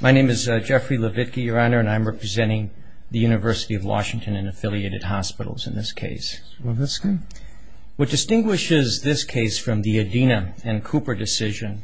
My name is Jeffrey Levitke, Your Honor, and I'm representing the University of Washington and affiliated hospitals in this case. What distinguishes this case from the Adina and Cooper decision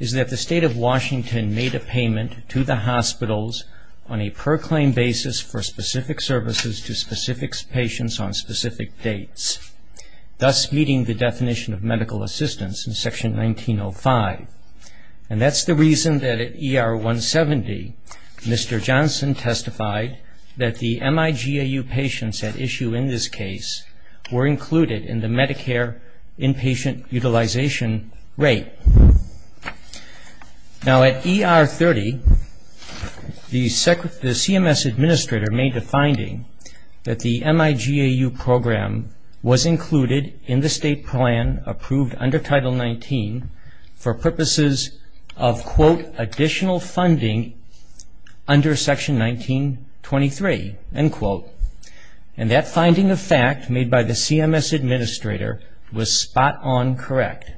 is that the State of Washington made a payment to the hospitals on a per-claim basis for specific services to specific patients on specific dates, thus meeting the definition of medical assistance in Section 1905. And that's the reason that at ER 170, Mr. Johnson testified that the MIGAU patients at issue in this case were included in the Medicare inpatient utilization rate. Now, at ER 30, the CMS administrator made the finding that the MIGAU program was included in the state plan approved under Title 19 for purposes of, quote, additional funding under Section 1923, end quote. And that finding of fact made by the CMS administrator was spot-on correct.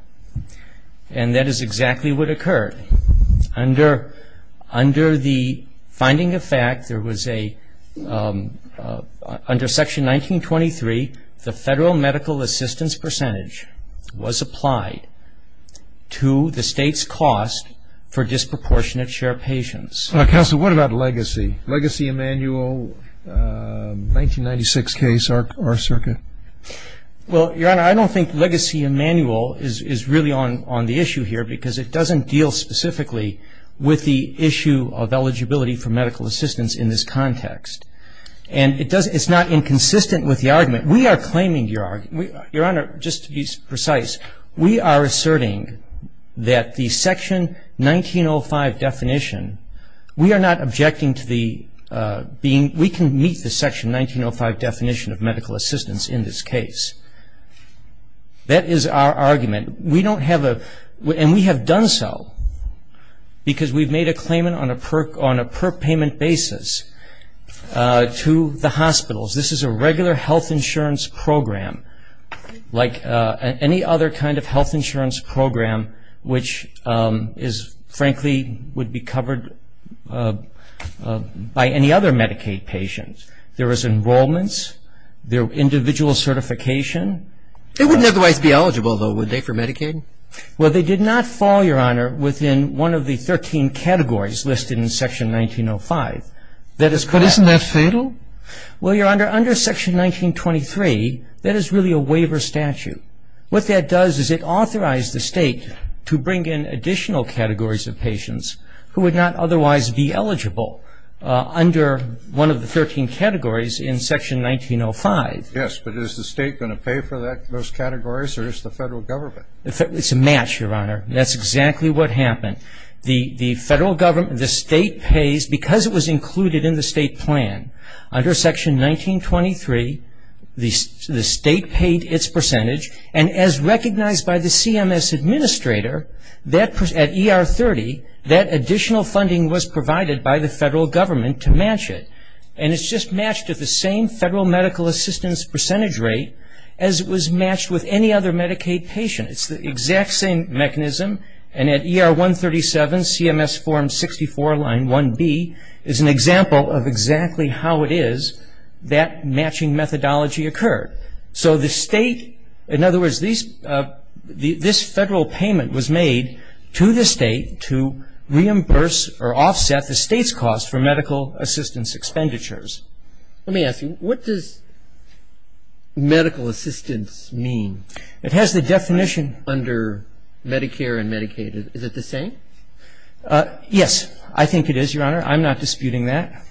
And that is exactly what occurred. Under the finding of fact, there was a, under Section 1923, the federal medical assistance percentage was applied to the state's cost for disproportionate share patients. Counsel, what about legacy? Legacy Emanuel, 1996 case, our circuit? Well, Your Honor, I don't think legacy Emanuel is really on the issue here because it doesn't deal specifically with the issue of eligibility for medical assistance in this context. And it's not inconsistent with the argument. We are claiming your argument. Your Honor, just to be precise, we are asserting that the Section 1905 definition, we are not objecting to the being, we can meet the Section 1905 definition of medical assistance in this case. That is our argument. We don't have a, and we have done so because we've made a claimant on a per-payment basis to the hospitals. This is a regular health insurance program like any other kind of health insurance program which is, frankly, would be covered by any other Medicaid patient. There is enrollments. There are individual certification. They wouldn't otherwise be eligible, though, would they, for Medicaid? Well, they did not fall, Your Honor, within one of the 13 categories listed in Section 1905. But isn't that fatal? Well, Your Honor, under Section 1923, that is really a waiver statute. What that does is it authorized the state to bring in additional categories of patients who would not otherwise be eligible under one of the 13 categories in Section 1905. Yes, but is the state going to pay for that, those categories, or is it the federal government? It's a match, Your Honor. That's exactly what happened. The federal government, the state pays because it was included in the state plan. Under Section 1923, the state paid its percentage. And as recognized by the CMS administrator, at ER 30, that additional funding was provided by the federal government to match it. And it's just matched at the same federal medical assistance percentage rate as it was matched with any other Medicaid patient. It's the exact same mechanism. And at ER 137, CMS Form 64, Line 1B, is an example of exactly how it is that matching methodology occurred. So the state, in other words, this federal payment was made to the state to reimburse or offset the state's cost for medical assistance expenditures. Let me ask you. What does medical assistance mean? It has the definition. Under Medicare and Medicaid, is it the same? Yes. I think it is, Your Honor. I'm not disputing that.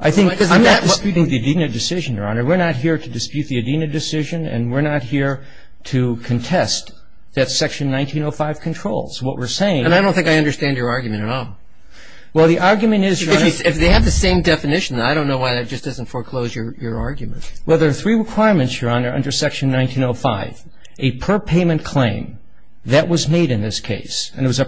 I think I'm not disputing the Adena decision, Your Honor. We're not here to dispute the Adena decision, and we're not here to contest that Section 1905 controls. What we're saying is And I don't think I understand your argument at all. Well, the argument is If they have the same definition, I don't know why that just doesn't foreclose your argument. Well, there are three requirements, Your Honor, under Section 1905. A per-payment claim that was made in this case, and it was a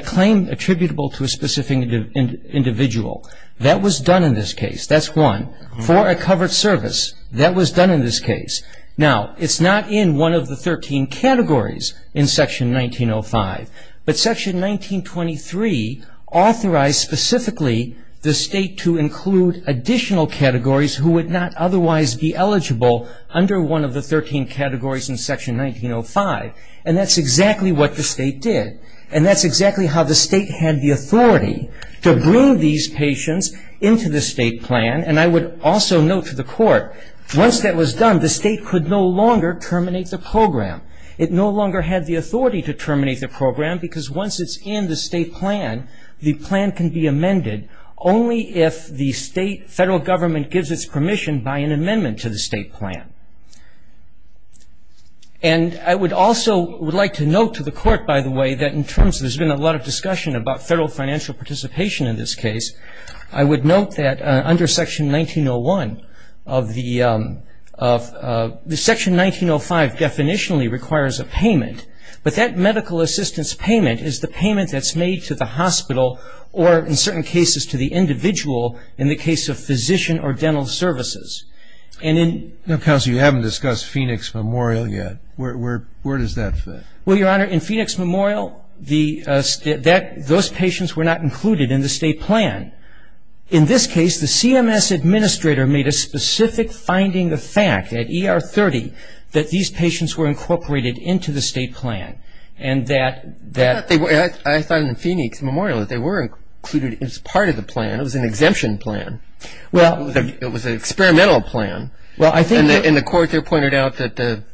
claim attributable to a specific individual. That was done in this case. That's one. For a covered service, that was done in this case. Now, it's not in one of the 13 categories in Section 1905, but Section 1923 authorized specifically the State to include additional categories who would not otherwise be eligible under one of the 13 categories in Section 1905, and that's exactly what the State did, and that's exactly how the State had the authority to bring these patients into the State plan, and I would also note to the Court, once that was done, the State could no longer terminate the program. It no longer had the authority to terminate the program because once it's in the State plan, the plan can be amended only if the State federal government gives its permission by an amendment to the State plan. And I would also like to note to the Court, by the way, that in terms of there's been a lot of discussion about federal financial participation in this case, I would note that under Section 1901 of the Section 1905 definitionally requires a payment, but that medical assistance payment is the payment that's made to the hospital or, in certain cases, to the individual in the case of physician or dental services. And in... No, Counselor, you haven't discussed Phoenix Memorial yet. Where does that fit? Well, Your Honor, in Phoenix Memorial, those patients were not included in the State plan. In this case, the CMS administrator made a specific finding of fact at ER 30 that these patients were incorporated into the State plan and that... I thought in Phoenix Memorial that they were included as part of the plan. It was an exemption plan. Well... It was an experimental plan. Well, I think... And the Court there pointed out that the...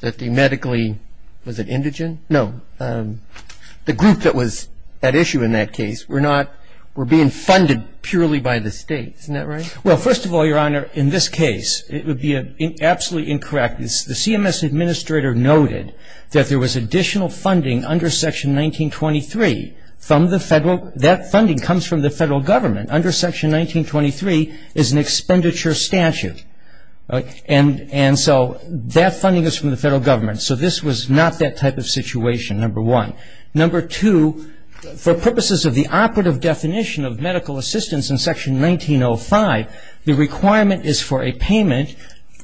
that the medically... Was it indigent? No. The group that was at issue in that case were not... funded purely by the State. Isn't that right? Well, first of all, Your Honor, in this case, it would be absolutely incorrect. The CMS administrator noted that there was additional funding under Section 1923 from the federal... That funding comes from the federal government. Under Section 1923 is an expenditure statute. And so that funding is from the federal government. So this was not that type of situation, number one. Number two, for purposes of the operative definition of medical assistance in Section 1905, the requirement is for a payment,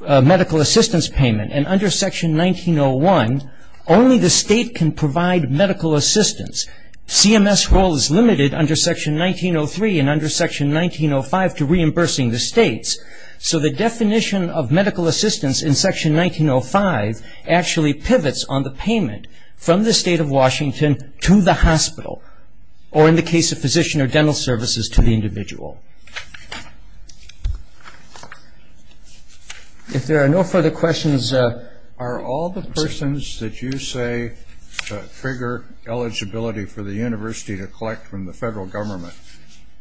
a medical assistance payment. And under Section 1901, only the State can provide medical assistance. CMS role is limited under Section 1903 and under Section 1905 to reimbursing the States. actually pivots on the payment from the State of Washington to the hospital or in the case of physician or dental services to the individual. If there are no further questions... Are all the persons that you say figure eligibility for the university to collect from the federal government,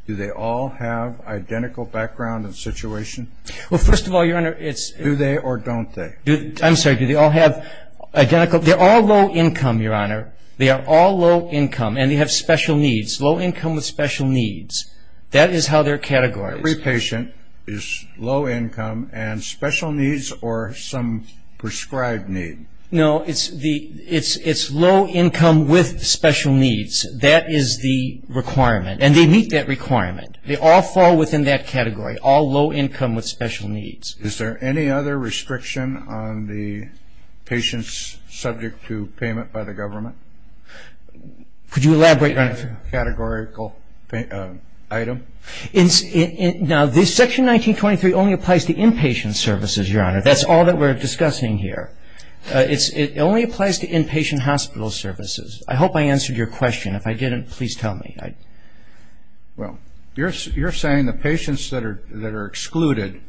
do they all have identical background and situation? Well, first of all, Your Honor, it's... Do they or don't they? I'm sorry, do they all have identical... They're all low income, Your Honor. They are all low income and they have special needs. Low income with special needs. That is how they're categorized. Every patient is low income and special needs or some prescribed need. No, it's low income with special needs. That is the requirement. And they meet that requirement. They all fall within that category, all low income with special needs. Is there any other restriction on the patients subject to payment by the government? Could you elaborate on it? Categorical item? Now, this section 1923 only applies to inpatient services, Your Honor. That's all that we're discussing here. It only applies to inpatient hospital services. I hope I answered your question. If I didn't, please tell me. Well, you're saying the patients that are excluded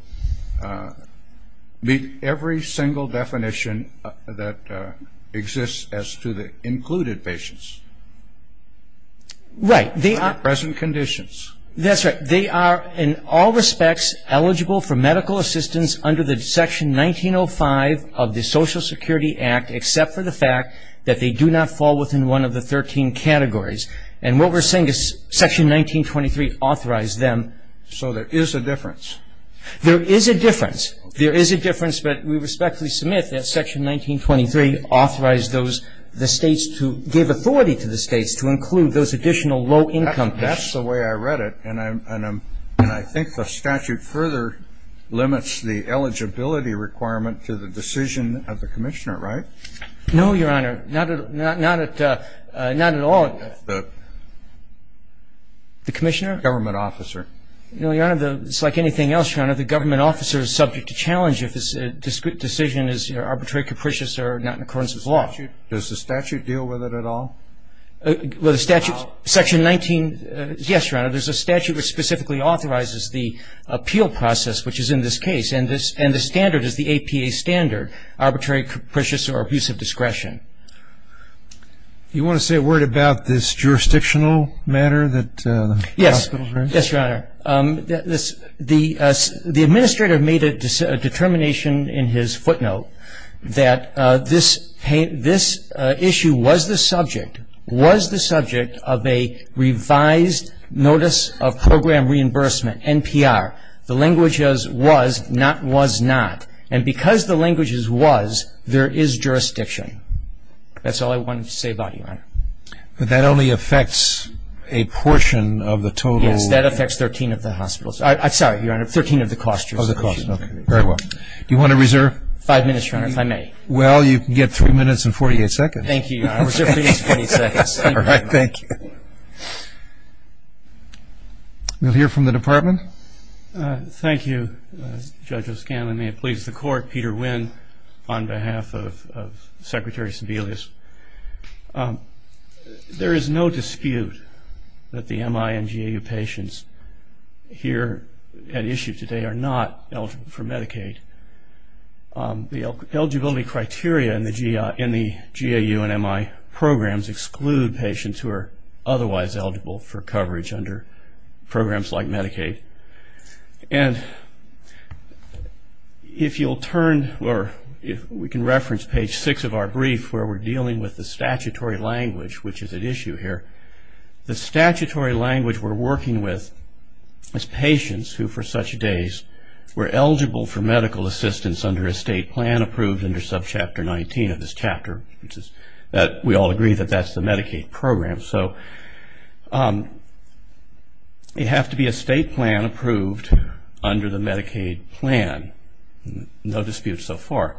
meet every single definition that exists as to the included patients. Right. Present conditions. That's right. They are in all respects eligible for medical assistance under the section 1905 of the Social Security Act except for the fact that they do not fall within one of the 13 categories. And what we're saying is section 1923 authorized them. So there is a difference. There is a difference. There is a difference. But we respectfully submit that section 1923 authorized those, the States to give authority to the States to include those additional low income patients. That's the way I read it. And I think the statute further limits the eligibility requirement to the decision of the commissioner, right? No, Your Honor. Not at all. The commissioner? Government officer. No, Your Honor. It's like anything else, Your Honor. The government officer is subject to challenge if his decision is arbitrary, capricious, or not in accordance with law. Does the statute deal with it at all? Well, the statute, section 19, yes, Your Honor. There's a statute that specifically authorizes the appeal process, which is in this case. And the standard is the APA standard, arbitrary, capricious, or abuse of discretion. Do you want to say a word about this jurisdictional matter? Yes. Yes, Your Honor. The administrator made a determination in his footnote that this issue was the subject, was the subject of a revised notice of program reimbursement, NPR. The language is was, not was not. And because the language is was, there is jurisdiction. That's all I wanted to say about it, Your Honor. But that only affects a portion of the total. Yes, that affects 13 of the hospitals. Sorry, Your Honor, 13 of the cost jurisdictions. Of the cost, okay. Very well. Do you want to reserve? Five minutes, Your Honor, if I may. Well, you can get three minutes and 48 seconds. Thank you, Your Honor. Reserve for these 20 seconds. All right, thank you. We'll hear from the department. Thank you, Judge O'Scanlan. And may it please the Court, Peter Wynn on behalf of Secretary Sebelius. There is no dispute that the MI and GAU patients here at issue today are not eligible for Medicaid. The eligibility criteria in the GAU and MI programs exclude patients who are otherwise eligible for coverage under programs like Medicaid. And if you'll turn, or we can reference page six of our brief where we're dealing with the statutory language, which is at issue here. The statutory language we're working with is patients who, for such days, were eligible for medical assistance under a state plan approved under subchapter 19 of this chapter, which is that we all agree that that's the Medicaid program. So it'd have to be a state plan approved under the Medicaid plan. No dispute so far.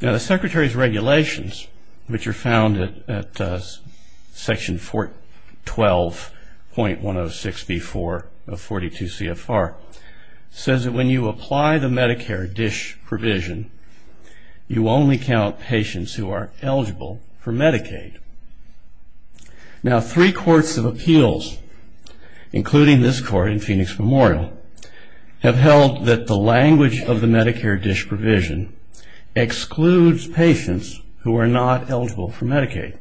Now, the Secretary's regulations, which are found at section 412.106B4 of 42 CFR, says that when you apply the Medicare DISH provision, you only count patients who are eligible for Medicaid. Now, three courts of appeals, including this court in Phoenix Memorial, have held that the language of the Medicare DISH provision excludes patients who are not eligible for Medicaid.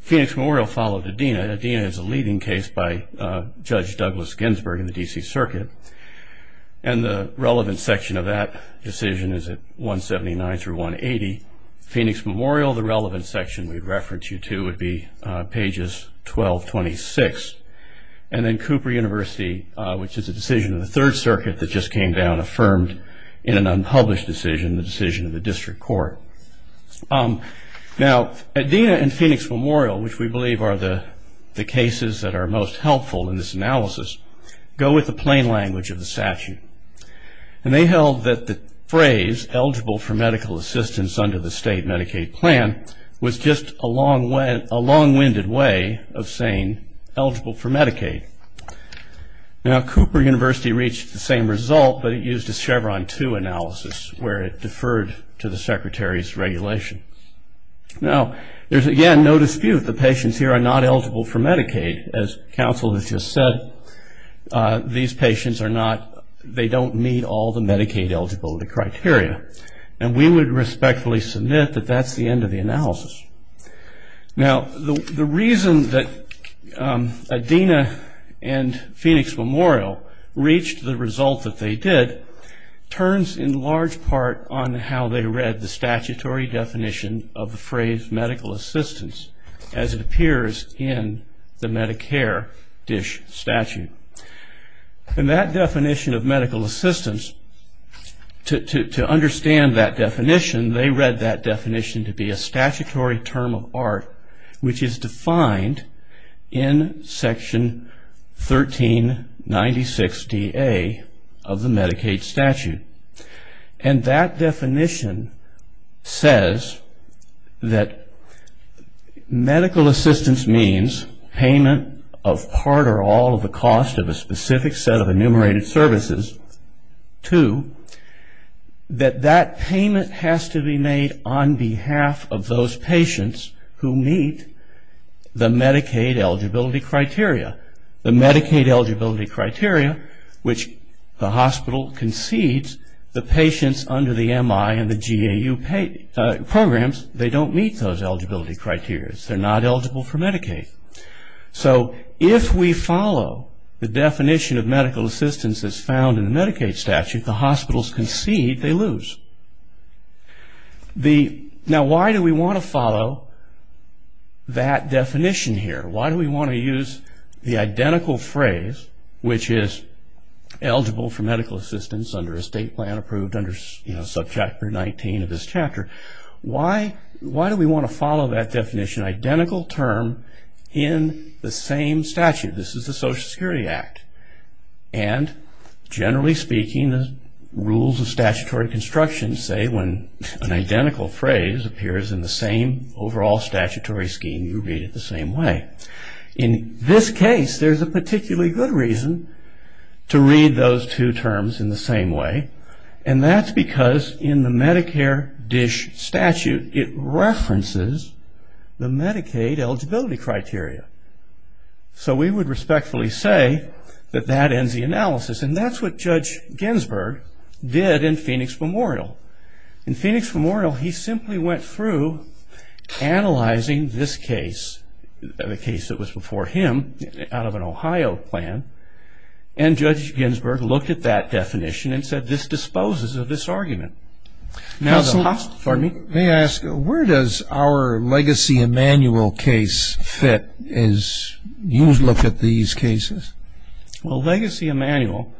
Phoenix Memorial followed Adena. Adena is a leading case by Judge Douglas Ginsburg in the D.C. Circuit, and the relevant section of that decision is at 179-180 Phoenix Memorial. The relevant section we'd reference you to would be pages 1226. And then Cooper University, which is a decision of the Third Circuit that just came down, in an unpublished decision, the decision of the district court. Now, Adena and Phoenix Memorial, which we believe are the cases that are most helpful in this analysis, go with the plain language of the statute. And they held that the phrase, eligible for medical assistance under the state Medicaid plan, was just a long-winded way of saying eligible for Medicaid. Now, Cooper University reached the same result, but it used a Chevron 2 analysis where it deferred to the secretary's regulation. Now, there's, again, no dispute that patients here are not eligible for Medicaid. As counsel has just said, these patients are not, they don't meet all the Medicaid eligibility criteria. And we would respectfully submit that that's the end of the analysis. Now, the reason that Adena and Phoenix Memorial reached the result that they did, turns in large part on how they read the statutory definition of the phrase medical assistance, as it appears in the Medicare DISH statute. And that definition of medical assistance, to understand that definition, they read that definition to be a statutory term of art, which is defined in Section 1396DA of the Medicaid statute. And that definition says that medical assistance means payment of part or all of the cost of a specific set of enumerated services to, that that payment has to be made on behalf of those patients who meet the Medicaid eligibility criteria. The Medicaid eligibility criteria, which the hospital concedes, the patients under the MI and the GAU programs, they don't meet those eligibility criteria. They're not eligible for Medicaid. So if we follow the definition of medical assistance as found in the Medicaid statute, if the hospitals concede, they lose. Now, why do we want to follow that definition here? Why do we want to use the identical phrase, which is eligible for medical assistance under a state plan approved under Subchapter 19 of this chapter? Why do we want to follow that definition, identical term in the same statute? This is the Social Security Act. And generally speaking, the rules of statutory construction say when an identical phrase appears in the same overall statutory scheme, you read it the same way. In this case, there's a particularly good reason to read those two terms in the same way. And that's because in the Medicare DISH statute, it references the Medicaid eligibility criteria. So we would respectfully say that that ends the analysis. And that's what Judge Ginsburg did in Phoenix Memorial. In Phoenix Memorial, he simply went through analyzing this case, the case that was before him, out of an Ohio plan, and Judge Ginsburg looked at that definition and said, this disposes of this argument. May I ask, where does our Legacy Emanuel case fit as you look at these cases? Well, Legacy Emanuel,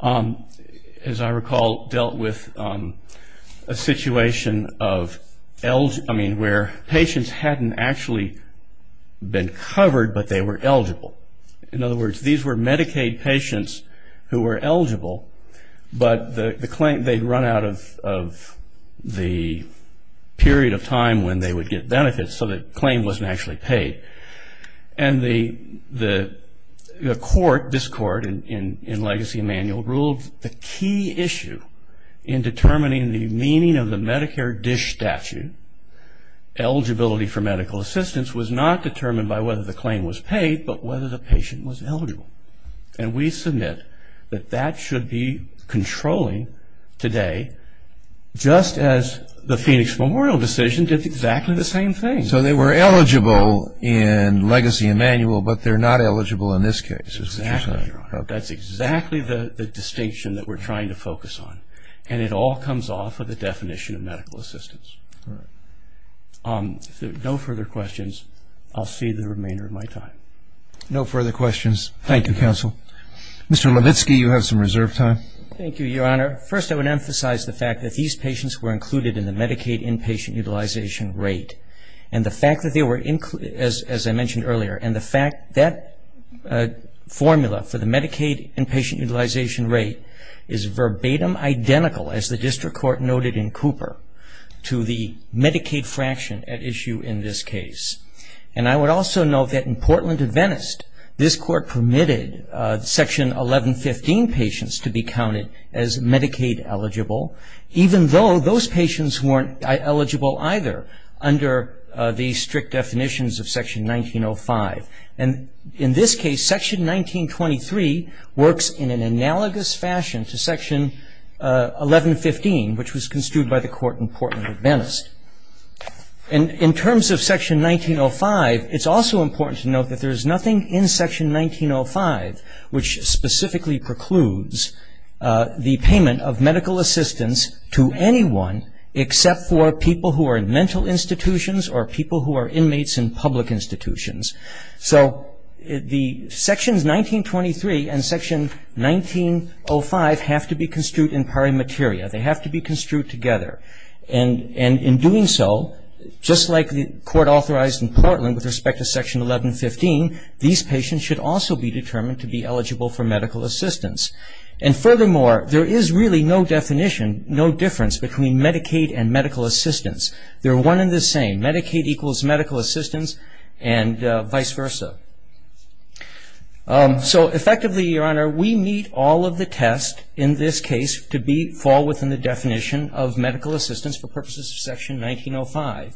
as I recall, dealt with a situation of, I mean, where patients hadn't actually been covered, but they were eligible. In other words, these were Medicaid patients who were eligible, but they'd run out of the period of time when they would get benefits, so the claim wasn't actually paid. And the court, this court in Legacy Emanuel, ruled the key issue in determining the meaning of the Medicare DISH statute, eligibility for medical assistance, was not determined by whether the claim was paid, but whether the patient was eligible. And we submit that that should be controlling today, just as the Phoenix Memorial decision did exactly the same thing. So they were eligible in Legacy Emanuel, but they're not eligible in this case. Exactly. That's exactly the distinction that we're trying to focus on. And it all comes off of the definition of medical assistance. All right. No further questions. I'll see the remainder of my time. No further questions. Thank you, counsel. Mr. Levitsky, you have some reserve time. Thank you, Your Honor. First, I would emphasize the fact that these patients were included in the Medicaid inpatient utilization rate. And the fact that they were included, as I mentioned earlier, and the fact that formula for the Medicaid inpatient utilization rate is verbatim identical, as the district court noted in Cooper, to the Medicaid fraction at issue in this case. And I would also note that in Portland and Venice, this court permitted Section 1115 patients to be counted as Medicaid eligible, even though those patients weren't eligible either under the strict definitions of Section 1905. And in this case, Section 1923 works in an analogous fashion to Section 1115, which was construed by the court in Portland and Venice. In terms of Section 1905, it's also important to note that there is nothing in Section 1905 which specifically precludes the payment of medical assistance to anyone except for people who are in mental institutions or people who are inmates in public institutions. So Sections 1923 and Section 1905 have to be construed in pari materia. They have to be construed together. And in doing so, just like the court authorized in Portland with respect to Section 1115, these patients should also be determined to be eligible for medical assistance. And furthermore, there is really no definition, no difference between Medicaid and medical assistance. They're one and the same. Medicaid equals medical assistance and vice versa. So effectively, Your Honor, we need all of the tests in this case to fall within the definition of medical assistance for purposes of Section 1905.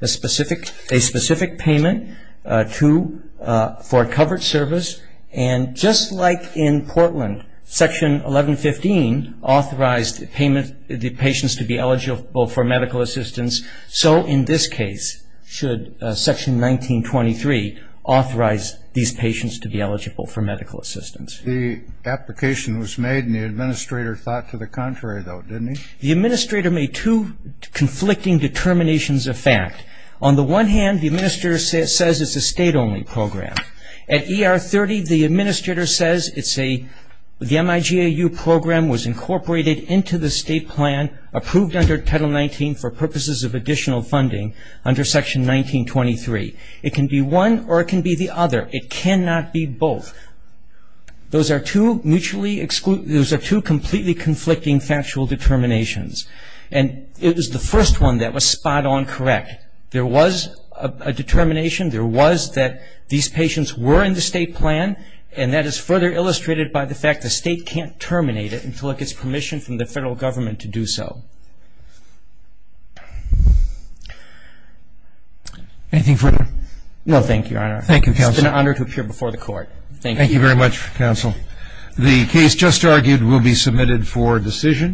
A specific payment for a covered service, and just like in Portland Section 1115 authorized the patients to be eligible for medical assistance, so in this case should Section 1923 authorize these patients to be eligible for medical assistance. The application was made and the administrator thought to the contrary, though, didn't he? The administrator made two conflicting determinations of fact. On the one hand, the administrator says it's a state-only program. At ER 30, the administrator says the MIGAU program was incorporated into the state plan, approved under Title 19 for purposes of additional funding under Section 1923. It can be one or it can be the other. It cannot be both. Those are two completely conflicting factual determinations, and it was the first one that was spot-on correct. There was a determination. There was that these patients were in the state plan, and that is further illustrated by the fact the state can't terminate it until it gets permission from the federal government to do so. Anything further? No, thank you, Your Honor. Thank you, Counsel. It's been an honor to appear before the Court. Thank you. Thank you very much, Counsel. The case just argued will be submitted for decision.